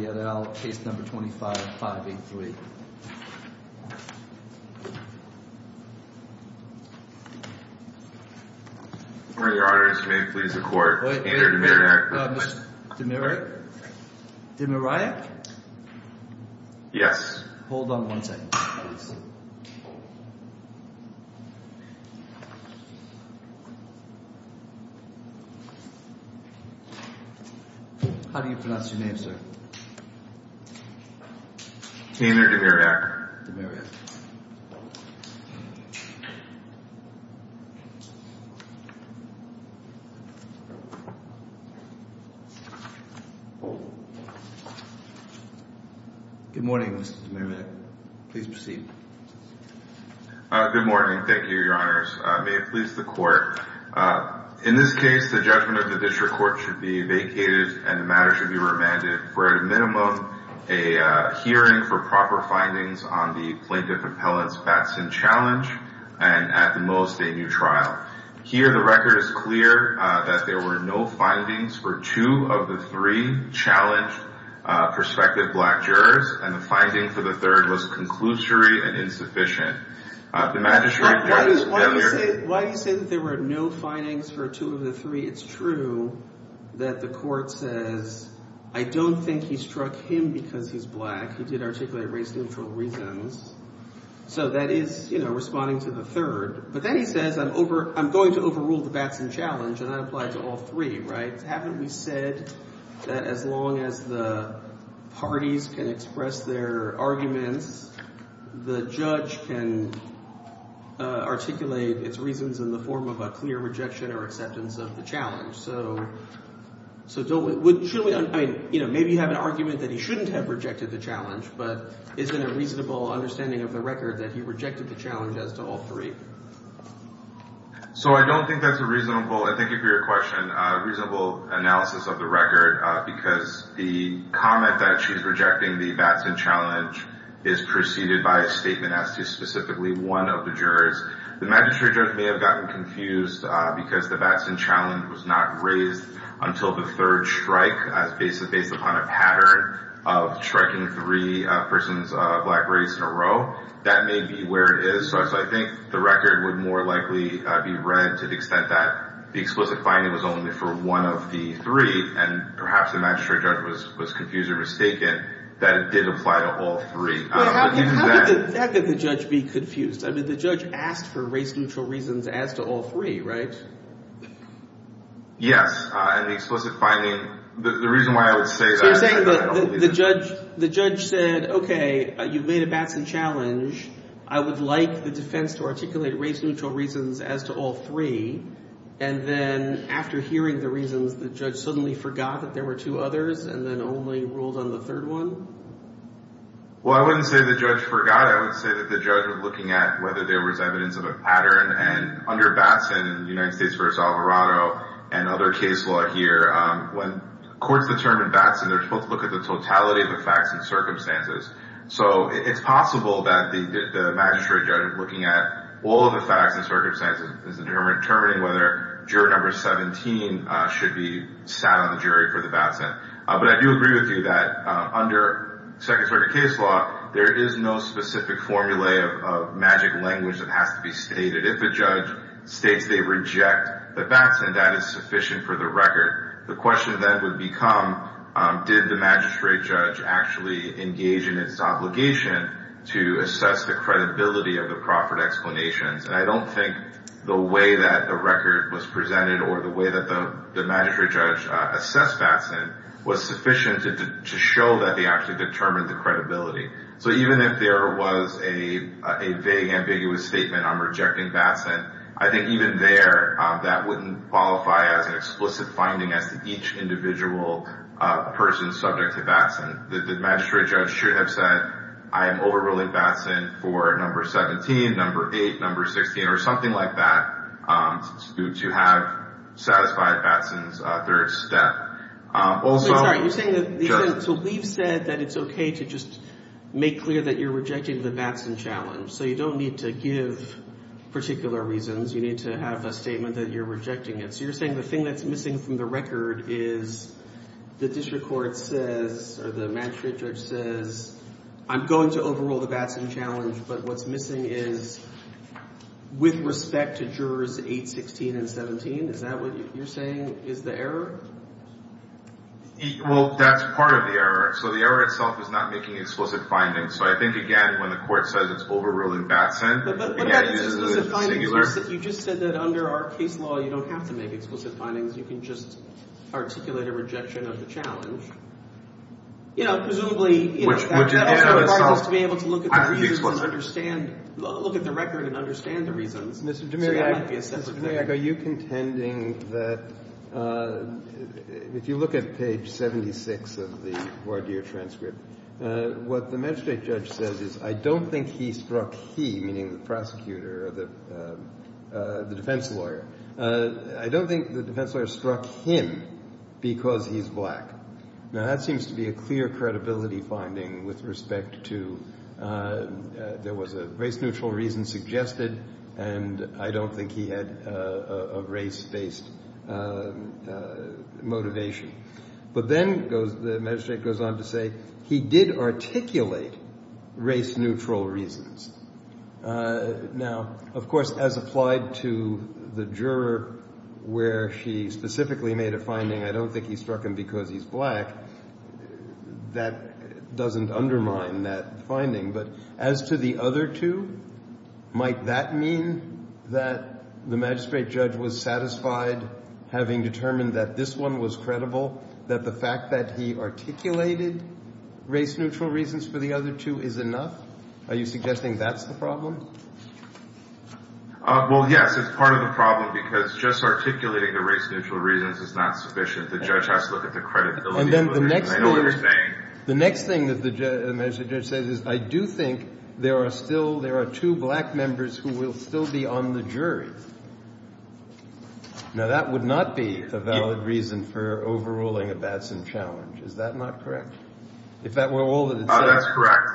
et al, case number 25583. Order your Honor, Mr. Maine, please record, Andrew Demirak. Mr. Demirak? Demirak? Yes. Hold on one second, please. How do you pronounce your name, sir? Taylor Demirak. Good morning, Mr. Demirak. Please proceed. Good morning. Thank you, Your Honors. May it please the Court, in this case, the judgment of the District Court should be vacated and the matter should be remanded for, at a minimum, a hearing for proper findings on the Plaintiff Appellant's Batson Challenge, and, at the most, a new trial. Here, the record is clear that there were no findings for two of the three challenged prospective black jurors, and the finding for the third was conclusory and insufficient. Why do you say that there were no findings for two of the three? It's true that the Court says, I don't think he struck him because he's black. He did articulate race neutral reasons. So that is, you know, responding to the third. But then he says, I'm going to overrule the Batson Challenge, and that applies to all three, right? But haven't we said that as long as the parties can express their arguments, the judge can articulate its reasons in the form of a clear rejection or acceptance of the challenge? So don't we – should we – I mean, you know, maybe you have an argument that he shouldn't have rejected the challenge, but isn't it a reasonable understanding of the record that he rejected the challenge as to all three? So I don't think that's a reasonable – and thank you for your question – it's not a reasonable analysis of the record because the comment that she's rejecting the Batson Challenge is preceded by a statement as to specifically one of the jurors. The magistrate judge may have gotten confused because the Batson Challenge was not raised until the third strike as based upon a pattern of striking three persons of black race in a row. That may be where it is. So I think the record would more likely be read to the extent that the explicit finding was only for one of the three, and perhaps the magistrate judge was confused or mistaken that it did apply to all three. But how could the judge be confused? I mean, the judge asked for race-neutral reasons as to all three, right? Yes, and the explicit finding – the reason why I would say that – The judge said, okay, you've made a Batson Challenge. I would like the defense to articulate race-neutral reasons as to all three, and then after hearing the reasons, the judge suddenly forgot that there were two others and then only ruled on the third one? Well, I wouldn't say the judge forgot. I would say that the judge was looking at whether there was evidence of a pattern, and under Batson, United States v. Alvarado, and other case law here, when courts determine Batson, they're supposed to look at the totality of the facts and circumstances. So it's possible that the magistrate judge looking at all of the facts and circumstances is determining whether juror number 17 should be sat on the jury for the Batson. But I do agree with you that under Second Circuit case law, there is no specific formulae of magic language that has to be stated. If a judge states they reject the Batson, that is sufficient for the record. The question then would become, did the magistrate judge actually engage in its obligation to assess the credibility of the proffered explanations? And I don't think the way that the record was presented or the way that the magistrate judge assessed Batson was sufficient to show that they actually determined the credibility. So even if there was a vague, ambiguous statement on rejecting Batson, I think even there, that wouldn't qualify as an explicit finding as to each individual person subject to Batson. The magistrate judge should have said, I am overruling Batson for number 17, number 8, number 16, or something like that to have satisfied Batson's third step. I'm sorry, you're saying that we've said that it's okay to just make clear that you're rejecting the Batson challenge. So you don't need to give particular reasons. You need to have a statement that you're rejecting it. So you're saying the thing that's missing from the record is the district court says, or the magistrate judge says, I'm going to overrule the Batson challenge, but what's missing is with respect to jurors 8, 16, and 17. Is that what you're saying is the error? Well, that's part of the error. So the error itself is not making explicit findings. So I think, again, when the court says it's overruling Batson. But what about explicit findings? You just said that under our case law, you don't have to make explicit findings. You can just articulate a rejection of the challenge. You know, presumably, you know. Which is the error itself. To be able to look at the reasons and understand, look at the record and understand the reasons. Mr. DeMariak, are you contending that if you look at page 76 of the voir dire transcript, what the magistrate judge says is I don't think he struck he, meaning the prosecutor or the defense lawyer. I don't think the defense lawyer struck him because he's black. Now, that seems to be a clear credibility finding with respect to there was a race-neutral reason suggested and I don't think he had a race-based motivation. But then the magistrate goes on to say he did articulate race-neutral reasons. Now, of course, as applied to the juror where she specifically made a finding, I don't think he struck him because he's black, that doesn't undermine that finding. But as to the other two, might that mean that the magistrate judge was satisfied, having determined that this one was credible, that the fact that he articulated race-neutral reasons for the other two is enough? Are you suggesting that's the problem? Well, yes. It's part of the problem because just articulating the race-neutral reasons is not sufficient. The judge has to look at the credibility. And then the next thing that the magistrate judge says is, I do think there are two black members who will still be on the jury. Now, that would not be a valid reason for overruling a Batson challenge. Is that not correct? If that were all that it says. That's correct.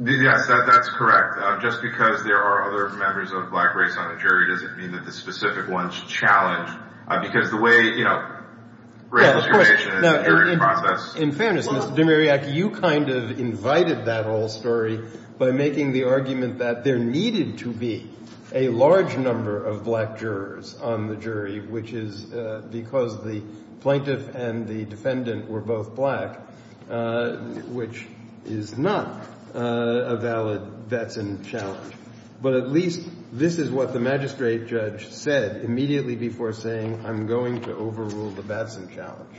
Yes, that's correct. Just because there are other members of the black race on the jury doesn't mean that the specific one's challenged because the way, you know, race discrimination is a jury process. In fairness, Mr. Demiriaki, you kind of invited that whole story by making the argument that there needed to be a large number of black jurors on the jury, which is because the plaintiff and the defendant were both black, which is not a valid Batson challenge. But at least this is what the magistrate judge said immediately before saying, I'm going to overrule the Batson challenge.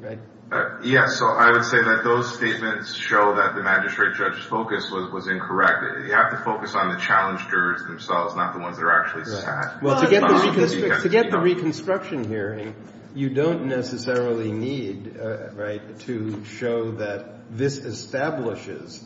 Right? So I would say that those statements show that the magistrate judge's focus was incorrect. You have to focus on the challenged jurors themselves, not the ones that are actually sat. Well, to get the reconstruction hearing, you don't necessarily need to show that this establishes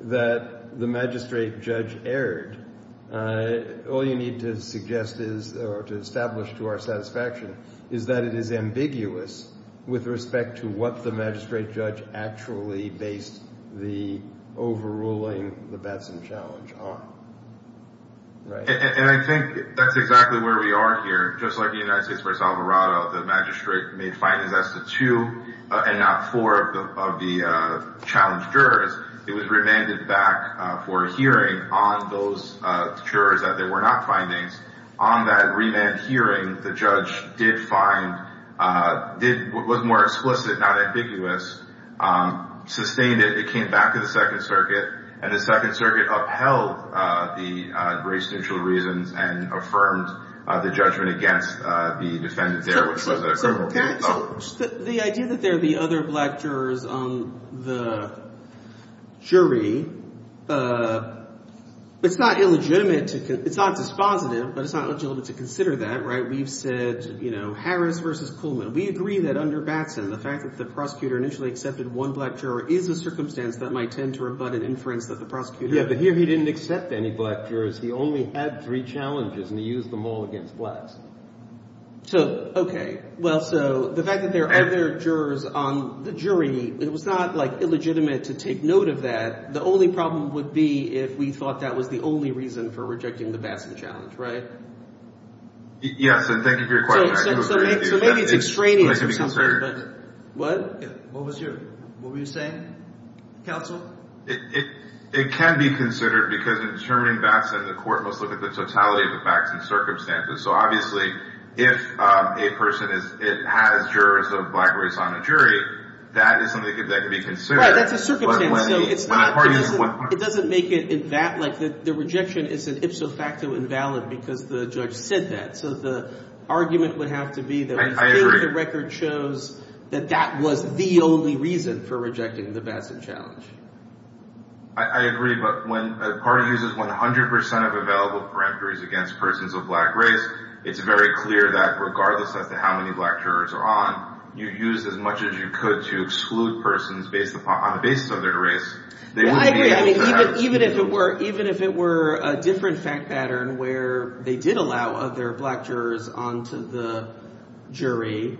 that the magistrate judge erred. All you need to suggest is or to establish to our satisfaction is that it is ambiguous with respect to what the magistrate judge actually based the overruling the Batson challenge on. And I think that's exactly where we are here. Just like the United States v. Alvarado, the magistrate made findings as to two and not four of the challenged jurors. It was remanded back for a hearing on those jurors that there were not findings on that remand hearing. The judge did find it was more explicit, not ambiguous, sustained it. It came back to the Second Circuit and the Second Circuit upheld the race-neutral reasons and affirmed the judgment against the defendant there. So the idea that there are the other black jurors on the jury, it's not illegitimate. It's not dispositive, but it's not legitimate to consider that. Right. We've said, you know, Harris v. We agree that under Batson, the fact that the prosecutor initially accepted one black juror is a circumstance that might tend to rebut an inference that the prosecutor— Yeah, but here he didn't accept any black jurors. He only had three challenges, and he used them all against blacks. So, okay. Well, so the fact that there are other jurors on the jury, it was not, like, illegitimate to take note of that. The only problem would be if we thought that was the only reason for rejecting the Batson challenge, right? Yes, and thank you for your question. So maybe it's extraneous or something, but— What? What was your—what were you saying, counsel? It can be considered because in determining Batson, the court must look at the totality of the Batson circumstances. So, obviously, if a person has jurors of black race on a jury, that is something that could be considered. Right. That's a circumstance. So it's not—it doesn't make it that, like, the rejection is an ipso facto invalid because the judge said that. So the argument would have to be that when he gave the record shows that that was the only reason for rejecting the Batson challenge. I agree, but when a party uses 100 percent of available parameters against persons of black race, it's very clear that regardless as to how many black jurors are on, you use as much as you could to exclude persons based upon—on the basis of their race. I agree. I mean, even if it were—even if it were a different fact pattern where they did allow other black jurors onto the jury,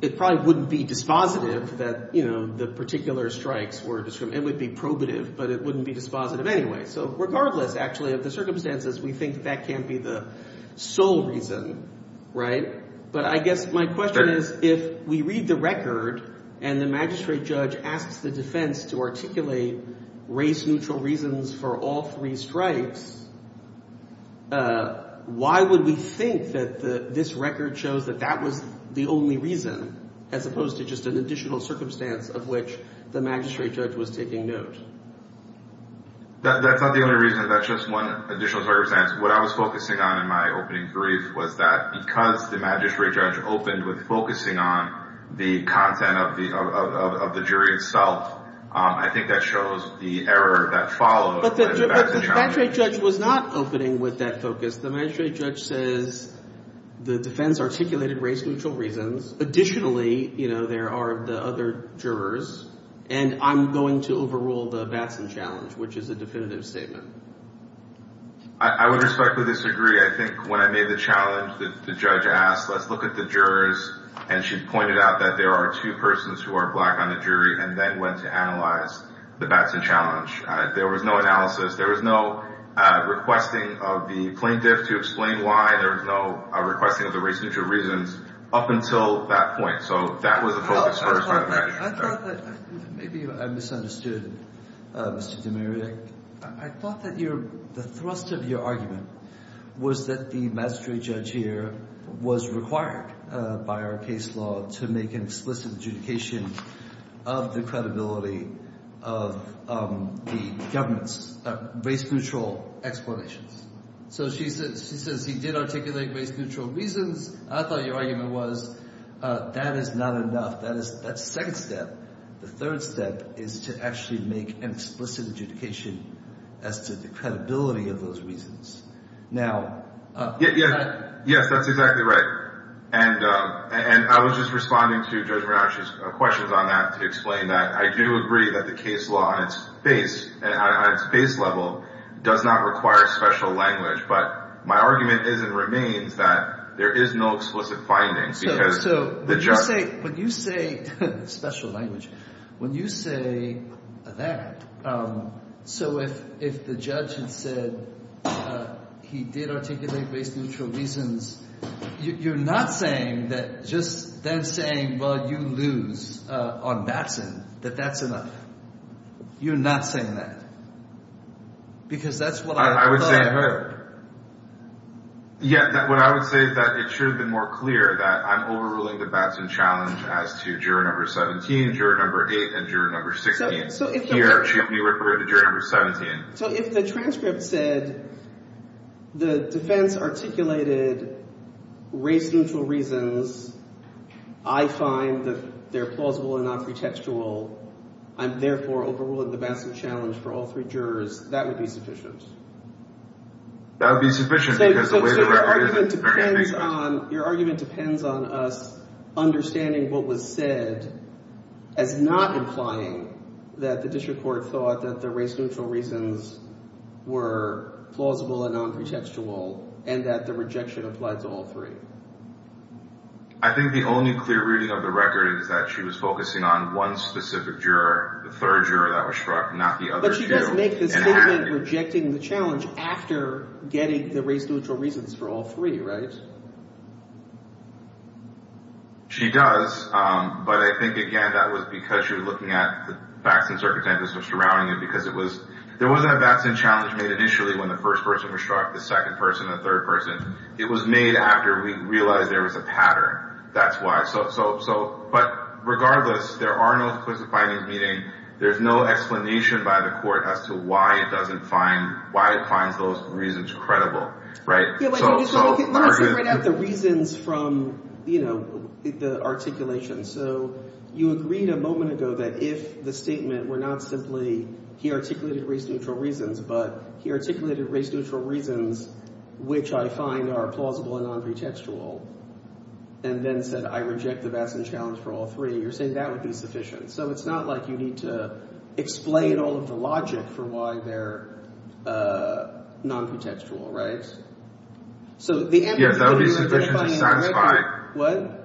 it probably wouldn't be dispositive that, you know, the particular strikes were—it would be probative, but it wouldn't be dispositive anyway. So regardless, actually, of the circumstances, we think that can't be the sole reason, right? But I guess my question is, if we read the record and the magistrate judge asks the defense to articulate race-neutral reasons for all three strikes, why would we think that this record shows that that was the only reason, as opposed to just an additional circumstance of which the magistrate judge was taking note? That's not the only reason. That's just one additional circumstance. What I was focusing on in my opening brief was that because the magistrate judge opened with focusing on the content of the jury itself, I think that shows the error that follows the Batson challenge. But the magistrate judge was not opening with that focus. The magistrate judge says the defense articulated race-neutral reasons. Additionally, you know, there are the other jurors, and I'm going to overrule the Batson challenge, which is a definitive statement. I would respectfully disagree. I think when I made the challenge, the judge asked, let's look at the jurors, and she pointed out that there are two persons who are black on the jury, and then went to analyze the Batson challenge. There was no analysis. There was no requesting of the plaintiff to explain why. There was no requesting of the race-neutral reasons up until that point. So that was a focus for us. I thought that maybe I misunderstood, Mr. DeMaria. I thought that the thrust of your argument was that the magistrate judge here was required by our case law to make an explicit adjudication of the credibility of the government's race-neutral explanations. So she says he did articulate race-neutral reasons. I thought your argument was that is not enough. That is the second step. The third step is to actually make an explicit adjudication as to the credibility of those reasons. Now— Yes, that's exactly right. And I was just responding to Judge Ranach's questions on that to explain that. I do agree that the case law on its base, on its base level, does not require special language. But my argument is and remains that there is no explicit findings because the judge— So when you say—special language. When you say that, so if the judge had said he did articulate race-neutral reasons, you're not saying that just then saying, well, you lose on that side, that that's enough. You're not saying that because that's what I thought. Yeah, what I would say is that it should have been more clear that I'm overruling the Batson challenge as to juror number 17, juror number 8, and juror number 16. Here, she would be referring to juror number 17. So if the transcript said the defense articulated race-neutral reasons, I find that they're plausible and not pretextual, I'm therefore overruling the Batson challenge for all three jurors. That would be sufficient. That would be sufficient because the way the record is— So your argument depends on us understanding what was said as not implying that the district court thought that the race-neutral reasons were plausible and non-pretextual and that the rejection applied to all three. I think the only clear reading of the record is that she was focusing on one specific juror, the third juror that was struck, not the other two. But she does make this statement rejecting the challenge after getting the race-neutral reasons for all three, right? She does, but I think, again, that was because she was looking at the Batson circumstances surrounding it because it was—there wasn't a Batson challenge made initially when the first person was struck, the second person, the third person. It was made after we realized there was a pattern. That's why. But regardless, there are no inquisitive findings, meaning there's no explanation by the court as to why it doesn't find—why it finds those reasons credible, right? Let me separate out the reasons from the articulation. So you agreed a moment ago that if the statement were not simply he articulated race-neutral reasons, but he articulated race-neutral reasons which I find are plausible and non-pretextual and then said, I reject the Batson challenge for all three, you're saying that would be sufficient. So it's not like you need to explain all of the logic for why they're non-pretextual, right? So the— Yes, that would be sufficient to satisfy— What?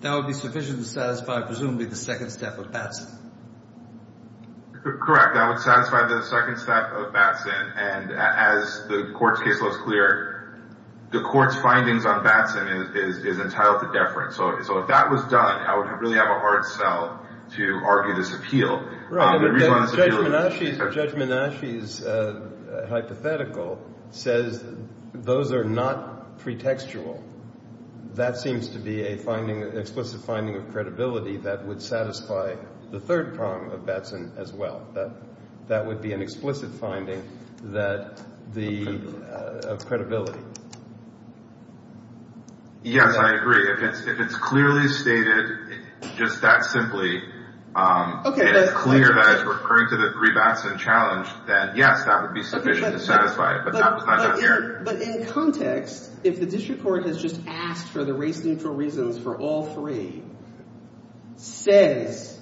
That would be sufficient to satisfy presumably the second step of Batson. Correct. That would satisfy the second step of Batson. And as the court's case law is clear, the court's findings on Batson is entitled to deference. So if that was done, I would really have a hard sell to argue this appeal. Right, but Judge Menasche's hypothetical says those are not pretextual. That seems to be an explicit finding of credibility that would satisfy the third problem of Batson as well. That would be an explicit finding that the—of credibility. Yes, I agree. If it's clearly stated just that simply and it's clear that it's referring to the rebatson challenge, then yes, that would be sufficient to satisfy it, but that was not done here. But in context, if the district court has just asked for the race-neutral reasons for all three, says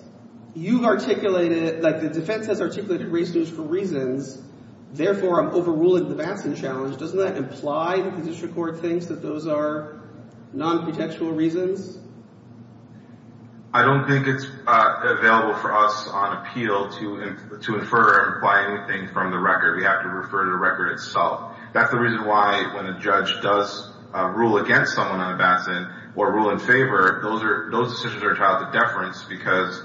you've articulated—like the defense has articulated race-neutral reasons, therefore I'm overruling the Batson challenge, doesn't that imply the district court thinks that those are non-pretextual reasons? I don't think it's available for us on appeal to infer or imply anything from the record. We have to refer to the record itself. That's the reason why when a judge does rule against someone on a Batson or rule in favor, those decisions are tied to deference because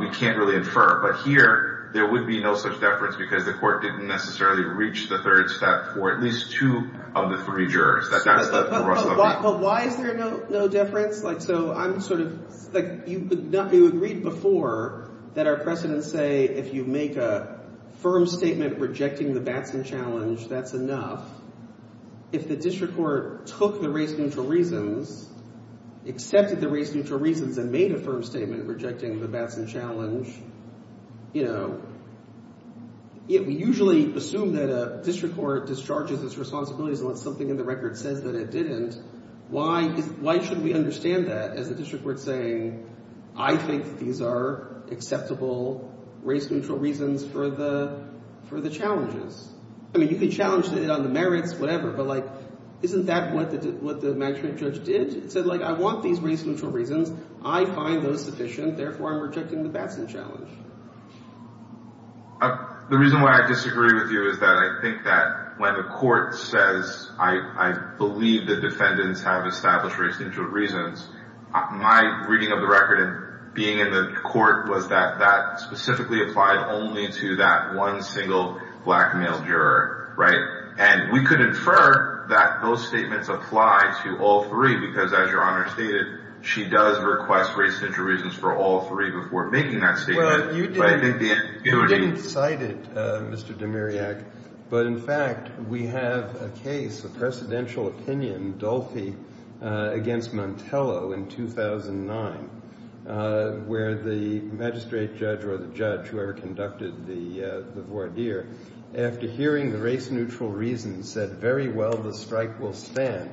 we can't really infer. But here there would be no such deference because the court didn't necessarily reach the third step for at least two of the three jurors. But why is there no deference? So I'm sort of—you agreed before that our precedents say if you make a firm statement rejecting the Batson challenge, that's enough. If the district court took the race-neutral reasons, accepted the race-neutral reasons, and made a firm statement rejecting the Batson challenge, you know, we usually assume that a district court discharges its responsibilities unless something in the record says that it didn't. Why should we understand that as a district court saying, I think these are acceptable race-neutral reasons for the challenges? I mean, you can challenge it on the merits, whatever, but, like, isn't that what the management judge did? It said, like, I want these race-neutral reasons. I find those sufficient. Therefore, I'm rejecting the Batson challenge. The reason why I disagree with you is that I think that when the court says, I believe the defendants have established race-neutral reasons, my reading of the record and being in the court was that that specifically applied only to that one single black male juror, right? And we could infer that those statements apply to all three because, as Your Honor stated, she does request race-neutral reasons for all three before making that statement. You didn't cite it, Mr. Demiriak, but, in fact, we have a case, a presidential opinion, Dolfi against Montello in 2009, where the magistrate judge or the judge, whoever conducted the voir dire, after hearing the race-neutral reasons, said, very well, the strike will stand,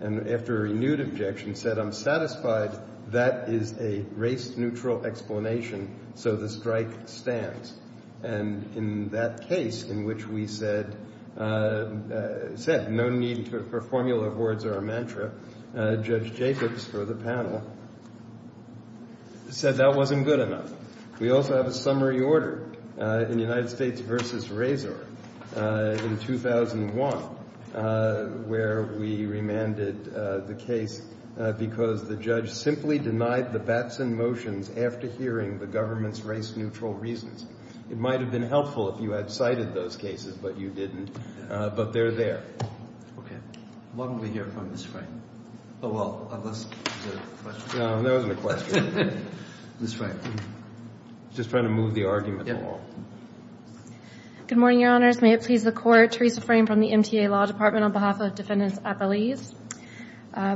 and after a renewed objection said, I'm satisfied that is a race-neutral explanation, so the strike stands. And in that case in which we said no need for formula of words or a mantra, Judge Jacobs, for the panel, said that wasn't good enough. We also have a summary order in United States v. Razor in 2001 where we remanded the case because the judge simply denied the Batson motions after hearing the government's race-neutral reasons. It might have been helpful if you had cited those cases, but you didn't. But they're there. What will we hear from Ms. Frank? Oh, well, was that a question? No, that wasn't a question. Ms. Frank. Just trying to move the argument along. Good morning, Your Honors. May it please the Court. I'm Theresa Fraim from the MTA Law Department on behalf of Defendants' Appellees.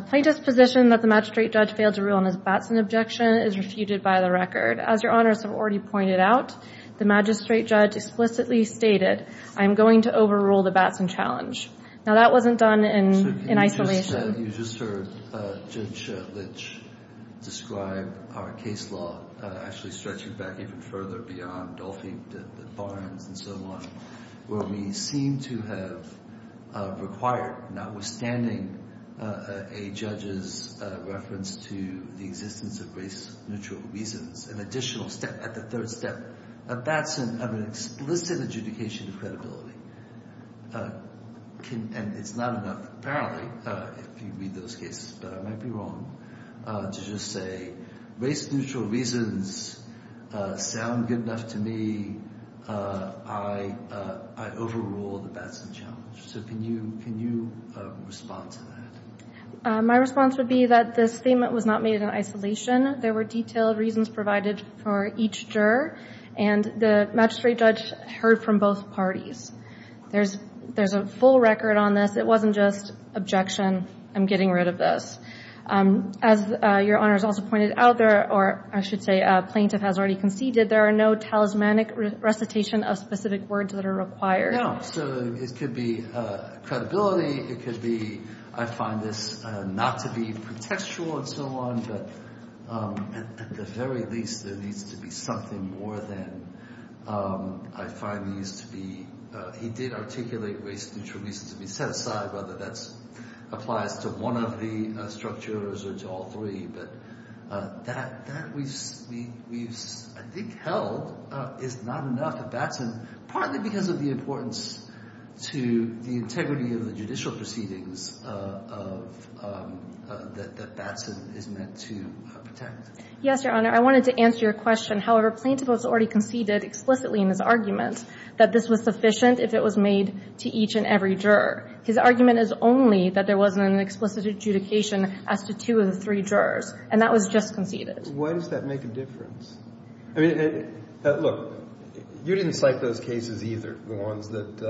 Plaintiff's position that the magistrate judge failed to rule on his Batson objection is refuted by the record. As Your Honors have already pointed out, the magistrate judge explicitly stated, I'm going to overrule the Batson challenge. Now, that wasn't done in isolation. You just heard Judge Lynch describe our case law actually stretching back even further beyond Dolphin, Barnes, and so on, where we seem to have required, notwithstanding a judge's reference to the existence of race-neutral reasons, an additional step, at the third step, a Batson of an explicit adjudication of credibility. And it's not enough, apparently, if you read those cases, but I might be wrong, to just say race-neutral reasons sound good enough to me. I overrule the Batson challenge. So can you respond to that? My response would be that this statement was not made in isolation. There were detailed reasons provided for each juror, and the magistrate judge heard from both parties. There's a full record on this. It wasn't just objection, I'm getting rid of this. As Your Honor has also pointed out, or I should say a plaintiff has already conceded, there are no talismanic recitation of specific words that are required. So it could be credibility. It could be, I find this not to be contextual and so on, but at the very least, there needs to be something more than, I find these to be, he did articulate race-neutral reasons to be set aside, whether that applies to one of the structures or to all three. But that we've, I think, held is not enough at Batson, partly because of the importance to the integrity of the judicial proceedings that Batson is meant to protect. Yes, Your Honor. I wanted to answer your question. However, plaintiff has already conceded explicitly in his argument that this was sufficient if it was made to each and every juror. His argument is only that there wasn't an explicit adjudication as to two of the three jurors. And that was just conceded. Why does that make a difference? I mean, look, you didn't cite those cases either, the ones that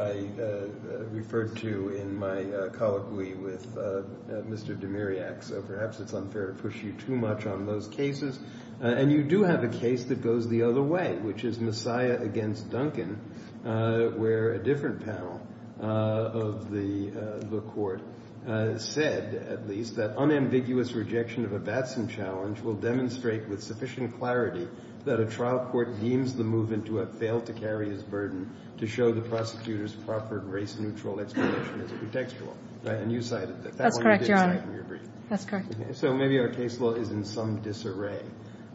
I referred to in my colloquy with Mr. Demiriak. So perhaps it's unfair to push you too much on those cases. And you do have a case that goes the other way, which is Messiah against Duncan, where a different panel of the court said, at least, that unambiguous rejection of a Batson challenge will demonstrate with sufficient clarity that a trial court deems the movement to have failed to carry its burden to show the prosecutor's proffered race-neutral explanation as a contextual. And you cited that. That's correct, Your Honor. That one you didn't cite in your brief. That's correct. So maybe our case law is in some disarray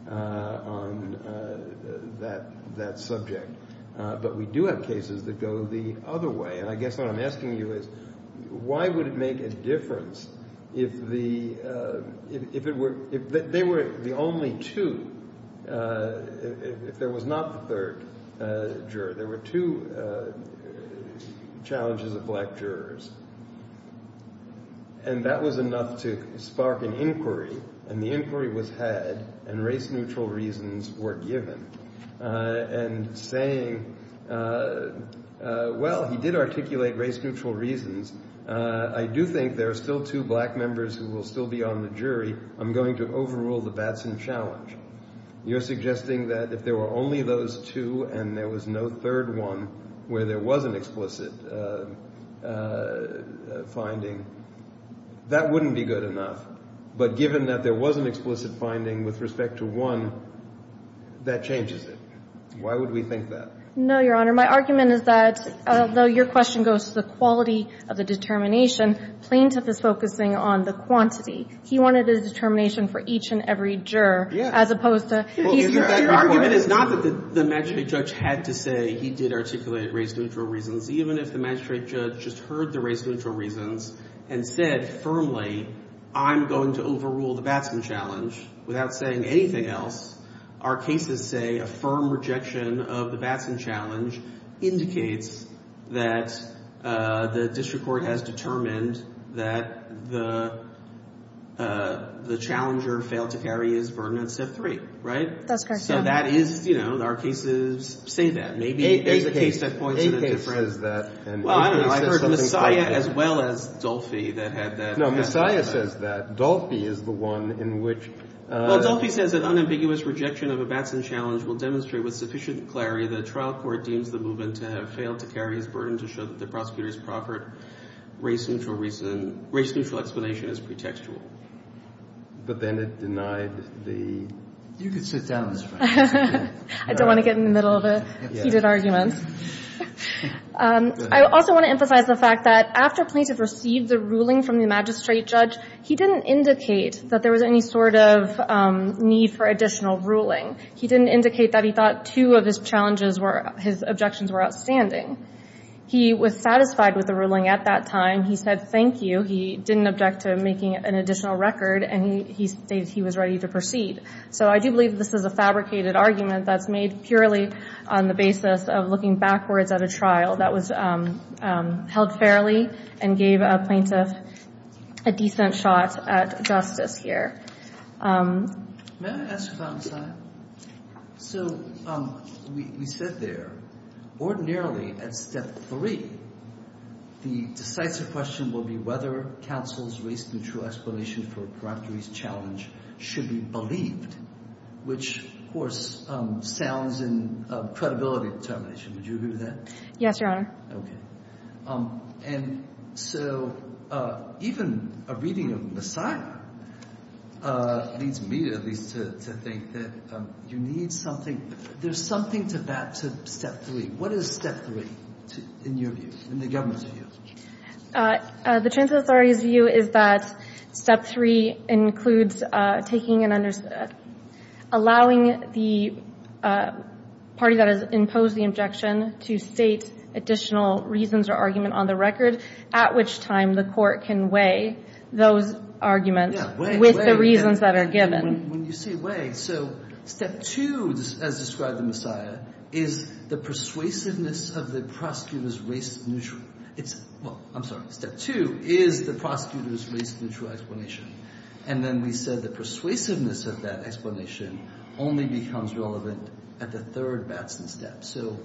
on that subject. But we do have cases that go the other way. And I guess what I'm asking you is why would it make a difference if the – if it were – if they were the only two, if there was not the third juror, there were two challenges of black jurors, and that was enough to spark an inquiry. And the inquiry was had, and race-neutral reasons were given. And saying, well, he did articulate race-neutral reasons. I do think there are still two black members who will still be on the jury. I'm going to overrule the Batson challenge. You're suggesting that if there were only those two and there was no third one where there was an explicit finding, that wouldn't be good enough. But given that there was an explicit finding with respect to one, that changes it. Why would we think that? No, Your Honor. My argument is that although your question goes to the quality of the determination, plaintiff is focusing on the quantity. He wanted a determination for each and every juror as opposed to – Well, your argument is not that the magistrate judge had to say he did articulate race-neutral reasons, even if the magistrate judge just heard the race-neutral reasons and said firmly, I'm going to overrule the Batson challenge, without saying anything else, our cases say a firm rejection of the Batson challenge indicates that the district court has determined that the challenger failed to carry his burden on step three. Right? That's correct, Your Honor. So that is, you know, our cases say that. Maybe there's a case that points to the difference. Well, I don't know. I heard Messiah as well as Dolphy that had that. No, Messiah says that. Dolphy is the one in which – Well, Dolphy says that unambiguous rejection of a Batson challenge will demonstrate with sufficient clarity that a trial court deems the movement to have failed to carry his burden to show that the prosecutor's proper race-neutral explanation is pretextual. But then it denied the – You can sit down. I don't want to get in the middle of heated arguments. I also want to emphasize the fact that after plaintiff received the ruling from the magistrate judge, he didn't indicate that there was any sort of need for additional ruling. He didn't indicate that he thought two of his challenges were – his objections were outstanding. He was satisfied with the ruling at that time. He said thank you. He didn't object to making an additional record, and he stated he was ready to proceed. So I do believe this is a fabricated argument that's made purely on the basis of looking backwards at a trial that was held fairly and gave a plaintiff a decent shot at justice here. May I ask about Messiah? So we said there ordinarily at step three, the decisive question will be whether counsel's race-neutral explanation for Proctory's challenge should be believed, which, of course, sounds in credibility determination. Would you agree with that? Yes, Your Honor. Okay. And so even a reading of Messiah leads me, at least, to think that you need something – there's something to that to step three. What is step three in your view, in the government's view? The transfer authority's view is that step three includes taking and – allowing the party that has imposed the objection to state additional reasons or argument on the record, at which time the court can weigh those arguments with the reasons that are given. When you say weigh, so step two, as described in Messiah, is the persuasiveness of the prosecutor's race-neutral – well, I'm sorry, step two is the prosecutor's race-neutral explanation. And then we said the persuasiveness of that explanation only becomes relevant at the third Batson step. So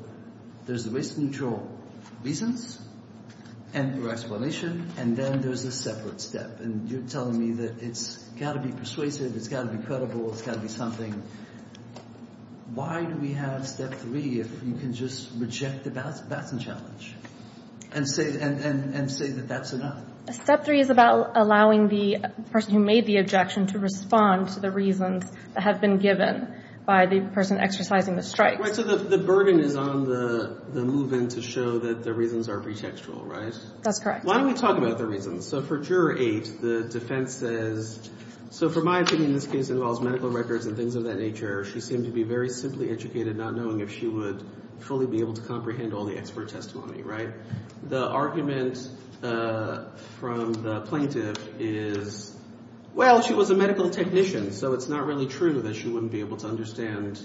there's the race-neutral reasons and your explanation, and then there's a separate step. And you're telling me that it's got to be persuasive, it's got to be credible, it's got to be something. Why do we have step three if you can just reject the Batson challenge and say that that's enough? Step three is about allowing the person who made the objection to respond to the reasons that have been given by the person exercising the strike. Right, so the burden is on the move-in to show that the reasons are pretextual, right? That's correct. Why don't we talk about the reasons? So for Juror 8, the defense says – so for my opinion, this case involves medical records and things of that nature. She seemed to be very simply educated, not knowing if she would fully be able to comprehend all the expert testimony, right? The argument from the plaintiff is, well, she was a medical technician, so it's not really true that she wouldn't be able to understand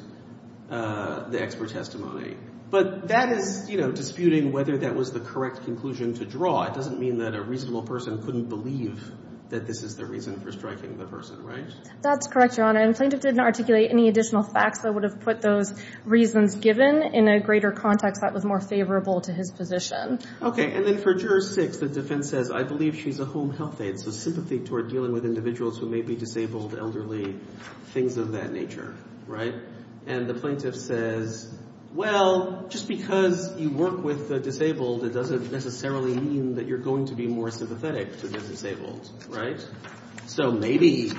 the expert testimony. But that is, you know, disputing whether that was the correct conclusion to draw. It doesn't mean that a reasonable person couldn't believe that this is the reason for striking the person, right? That's correct, Your Honor. And the plaintiff didn't articulate any additional facts that would have put those reasons given. In a greater context, that was more favorable to his position. Okay, and then for Juror 6, the defense says, I believe she's a home health aide, so sympathy toward dealing with individuals who may be disabled, elderly, things of that nature, right? And the plaintiff says, well, just because you work with the disabled, it doesn't necessarily mean that you're going to be more sympathetic to the disabled, right? So maybe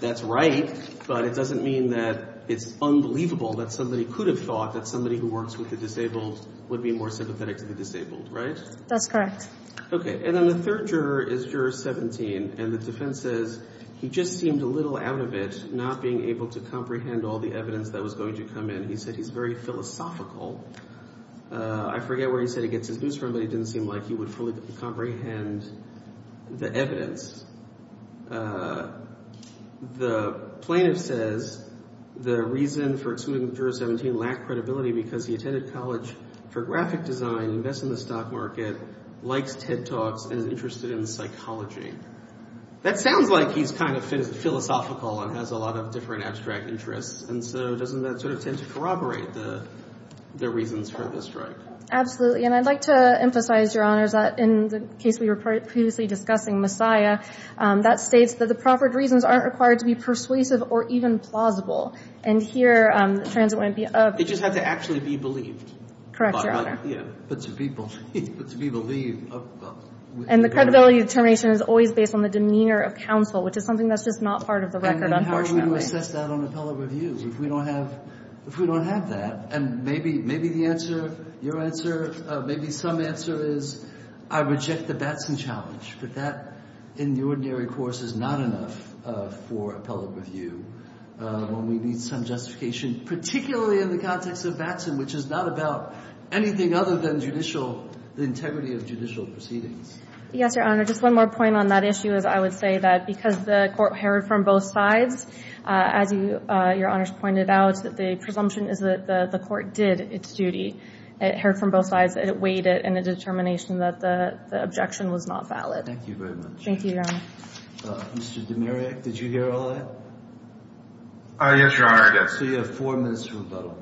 that's right, but it doesn't mean that it's unbelievable that somebody could have thought that somebody who works with the disabled would be more sympathetic to the disabled, right? That's correct. Okay. And then the third juror is Juror 17, and the defense says he just seemed a little out of it, not being able to comprehend all the evidence that was going to come in. He said he's very philosophical. I forget where he said he gets his news from, but it didn't seem like he would fully comprehend the evidence. The plaintiff says the reason for excluding Juror 17 lacked credibility because he attended college for graphic design, invests in the stock market, likes TED Talks, and is interested in psychology. That sounds like he's kind of philosophical and has a lot of different abstract interests, and so doesn't that sort of tend to corroborate the reasons for this, right? Absolutely, and I'd like to emphasize, Your Honors, that in the case we were previously discussing, Messiah, that states that the proffered reasons aren't required to be persuasive or even plausible. And here, the transit wouldn't be up. It just had to actually be believed. Correct, Your Honor. Yeah. But to be believed. And the credibility determination is always based on the demeanor of counsel, which is something that's just not part of the record, unfortunately. How do you assess that on appellate review if we don't have that? And maybe the answer, your answer, maybe some answer is I reject the Batson challenge. But that, in the ordinary course, is not enough for appellate review. We need some justification, particularly in the context of Batson, which is not about anything other than judicial, the integrity of judicial proceedings. Yes, Your Honor. Just one more point on that issue is I would say that because the court heard from both sides, as Your Honors pointed out, the presumption is that the court did its duty. It heard from both sides. It weighed it in a determination that the objection was not valid. Thank you very much. Thank you, Your Honor. Mr. Demirak, did you hear all that? Yes, Your Honor, I did. So you have four minutes for rebuttal.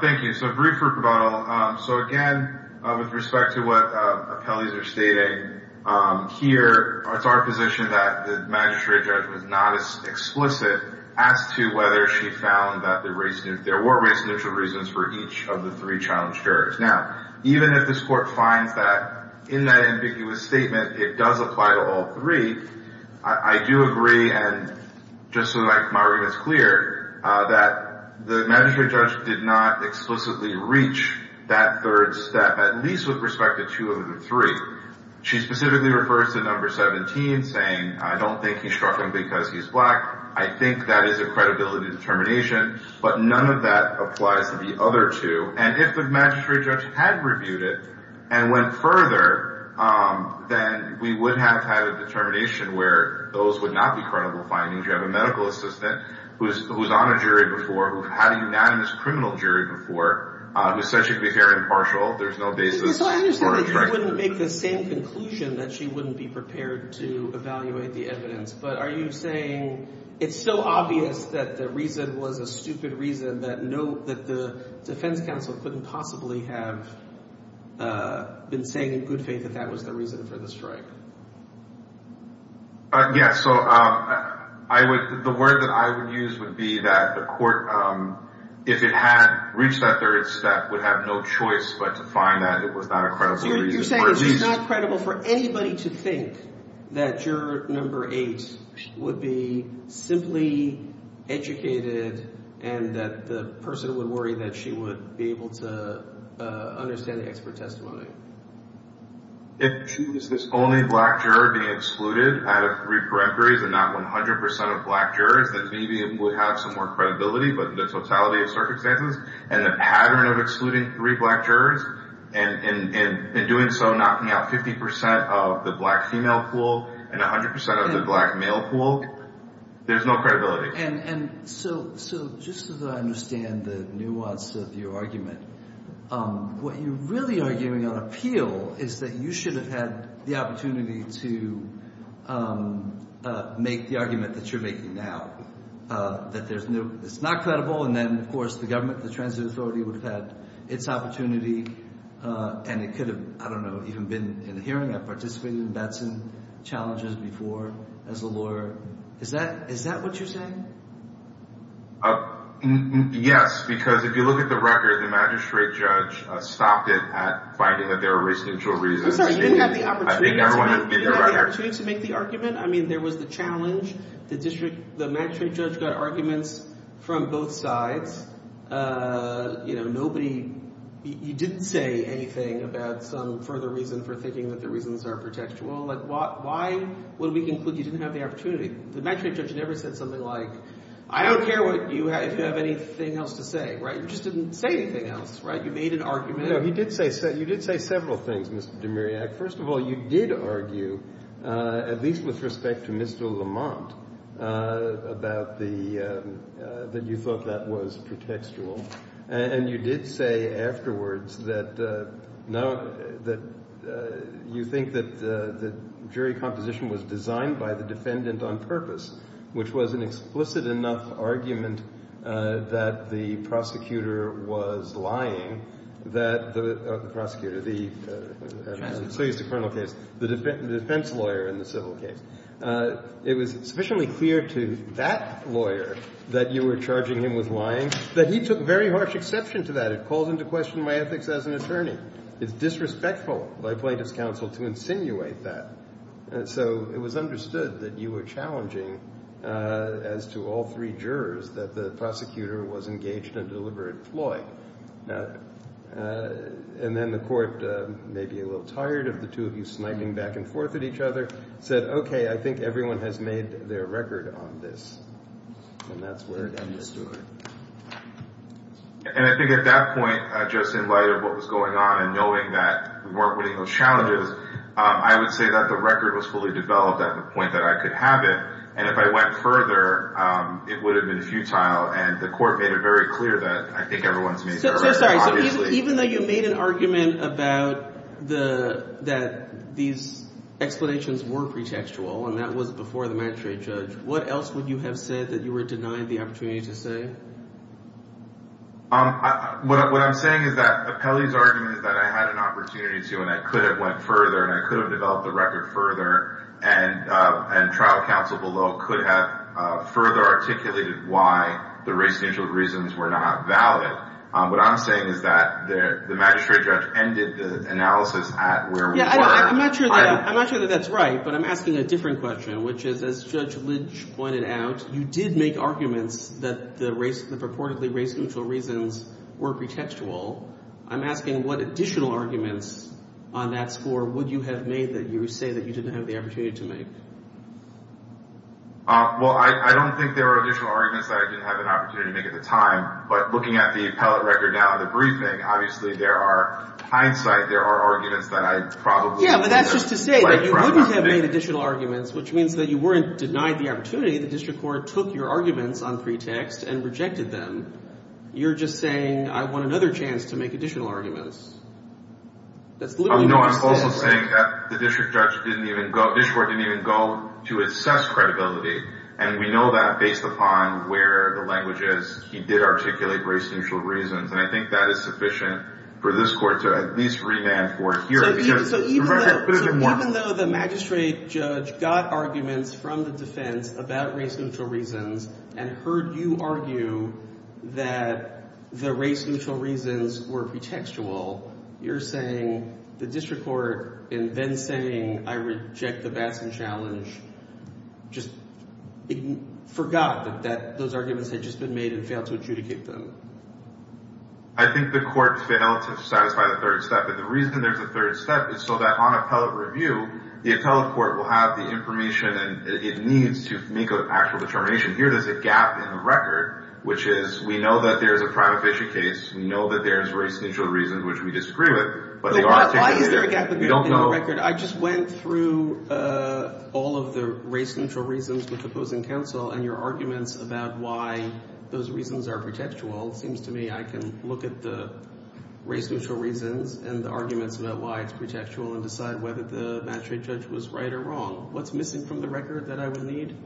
Thank you. So brief rebuttal. So, again, with respect to what appellees are stating here, it's our position that the magistrate judge was not as explicit as to whether she found that there were race-neutral reasons for each of the three challenged jurors. Now, even if this court finds that in that ambiguous statement it does apply to all three, I do agree, and just so my argument is clear, that the magistrate judge did not explicitly reach that third step, at least with respect to two of the three. She specifically refers to number 17, saying, I don't think he struck him because he's black. I think that is a credibility determination. But none of that applies to the other two. And if the magistrate judge had reviewed it and went further, then we would have had a determination where those would not be credible findings. You have a medical assistant who's on a jury before, who had a unanimous criminal jury before, who said she'd be fair and impartial. There's no basis for a treachery. So I understand that you wouldn't make the same conclusion that she wouldn't be prepared to evaluate the evidence. But are you saying it's still obvious that the reason was a stupid reason, that the defense counsel couldn't possibly have been saying in good faith that that was the reason for the strike? Yes. So the word that I would use would be that the court, if it had reached that third step, would have no choice but to find that it was not a credible reason. You're saying it's not credible for anybody to think that juror number eight would be simply educated and that the person would worry that she would be able to understand the expert testimony. If she was this only black juror being excluded out of three peremptories and not 100 percent of black jurors, then maybe it would have some more credibility. But the totality of circumstances and the pattern of excluding three black jurors and in doing so knocking out 50 percent of the black female pool and 100 percent of the black male pool, there's no credibility. And so just so that I understand the nuance of your argument, what you're really arguing on appeal is that you should have had the opportunity to make the argument that you're making now, that it's not credible, and then, of course, the government, the transit authority would have had its opportunity and it could have, I don't know, even been in the hearing. I've participated in Batson challenges before as a lawyer. Is that what you're saying? Yes, because if you look at the record, the magistrate judge stopped it at finding that there were race-neutral reasons. I'm sorry, you didn't have the opportunity to make the argument? I mean, there was the challenge. The district – the magistrate judge got arguments from both sides. You know, nobody – you didn't say anything about some further reason for thinking that the reasons are pretextual. Why would we conclude you didn't have the opportunity? The magistrate judge never said something like, I don't care what you – if you have anything else to say, right? You just didn't say anything else, right? You made an argument. No, he did say – you did say several things, Mr. Demiriak. First of all, you did argue, at least with respect to Mr. Lamont, about the – that you thought that was pretextual. And you did say afterwards that now – that you think that the jury composition was designed by the defendant on purpose, which was an explicit enough argument that the prosecutor was lying that the – prosecutor, the – so he's the criminal case – the defense lawyer in the civil case. It was sufficiently clear to that lawyer that you were charging him with lying that he took very harsh exception to that. It calls into question my ethics as an attorney. It's disrespectful by plaintiff's counsel to insinuate that. So it was understood that you were challenging as to all three jurors that the prosecutor was engaged in deliberate ploy. And then the court, maybe a little tired of the two of you sniping back and forth at each other, said, okay, I think everyone has made their record on this, and that's where it ended. And I think at that point, just in light of what was going on and knowing that we weren't winning those challenges, I would say that the record was fully developed at the point that I could have it, and if I went further, it would have been futile. And the court made it very clear that I think everyone's made their record, obviously. I'm sorry. So even though you made an argument about the – that these explanations were pretextual, and that was before the magistrate judge, what else would you have said that you were denied the opportunity to say? What I'm saying is that Apelli's argument is that I had an opportunity to, and I could have went further, and I could have developed the record further, and trial counsel below could have further articulated why the race-neutral reasons were not valid. What I'm saying is that the magistrate judge ended the analysis at where we were. I'm not sure that that's right, but I'm asking a different question, which is, as Judge Lynch pointed out, you did make arguments that the purportedly race-neutral reasons were pretextual. I'm asking what additional arguments on that score would you have made that you say that you didn't have the opportunity to make. Well, I don't think there are additional arguments that I didn't have an opportunity to make at the time, but looking at the appellate record now and the briefing, obviously there are – hindsight, there are arguments that I probably would have – Yeah, but that's just to say that you wouldn't have made additional arguments, which means that you weren't denied the opportunity. The district court took your arguments on pretext and rejected them. You're just saying I want another chance to make additional arguments. No, I'm also saying that the district court didn't even go to assess credibility, and we know that based upon where the language is, he did articulate race-neutral reasons, and I think that is sufficient for this court to at least remand for hearing. So even though the magistrate judge got arguments from the defense about race-neutral reasons and heard you argue that the race-neutral reasons were pretextual, you're saying the district court in then saying I reject the Batson challenge just forgot that those arguments had just been made and failed to adjudicate them. I think the court failed to satisfy the third step, and the reason there's a third step is so that on appellate review, the appellate court will have the information it needs to make an actual determination. Here there's a gap in the record, which is we know that there's a private fishing case. We know that there's race-neutral reasons, which we disagree with. Why is there a gap in the record? I just went through all of the race-neutral reasons with opposing counsel and your arguments about why those reasons are pretextual. It seems to me I can look at the race-neutral reasons and the arguments about why it's pretextual and decide whether the magistrate judge was right or wrong. What's missing from the record that I would need?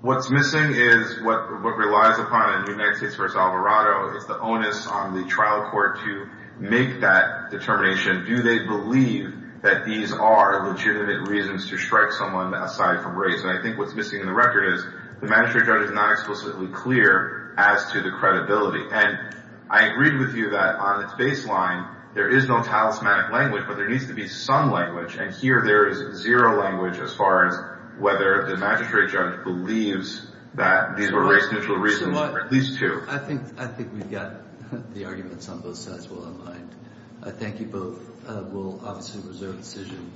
What's missing is what relies upon in the United States v. Alvarado is the onus on the trial court to make that determination. Do they believe that these are legitimate reasons to strike someone aside from race? I think what's missing in the record is the magistrate judge is not explicitly clear as to the credibility. I agree with you that on its baseline there is no talismanic language, but there needs to be some language, and here there is zero language as far as whether the magistrate judge believes that these were race-neutral reasons or at least two. I think we've got the arguments on both sides well in line. I thank you both. We'll obviously reserve the decision.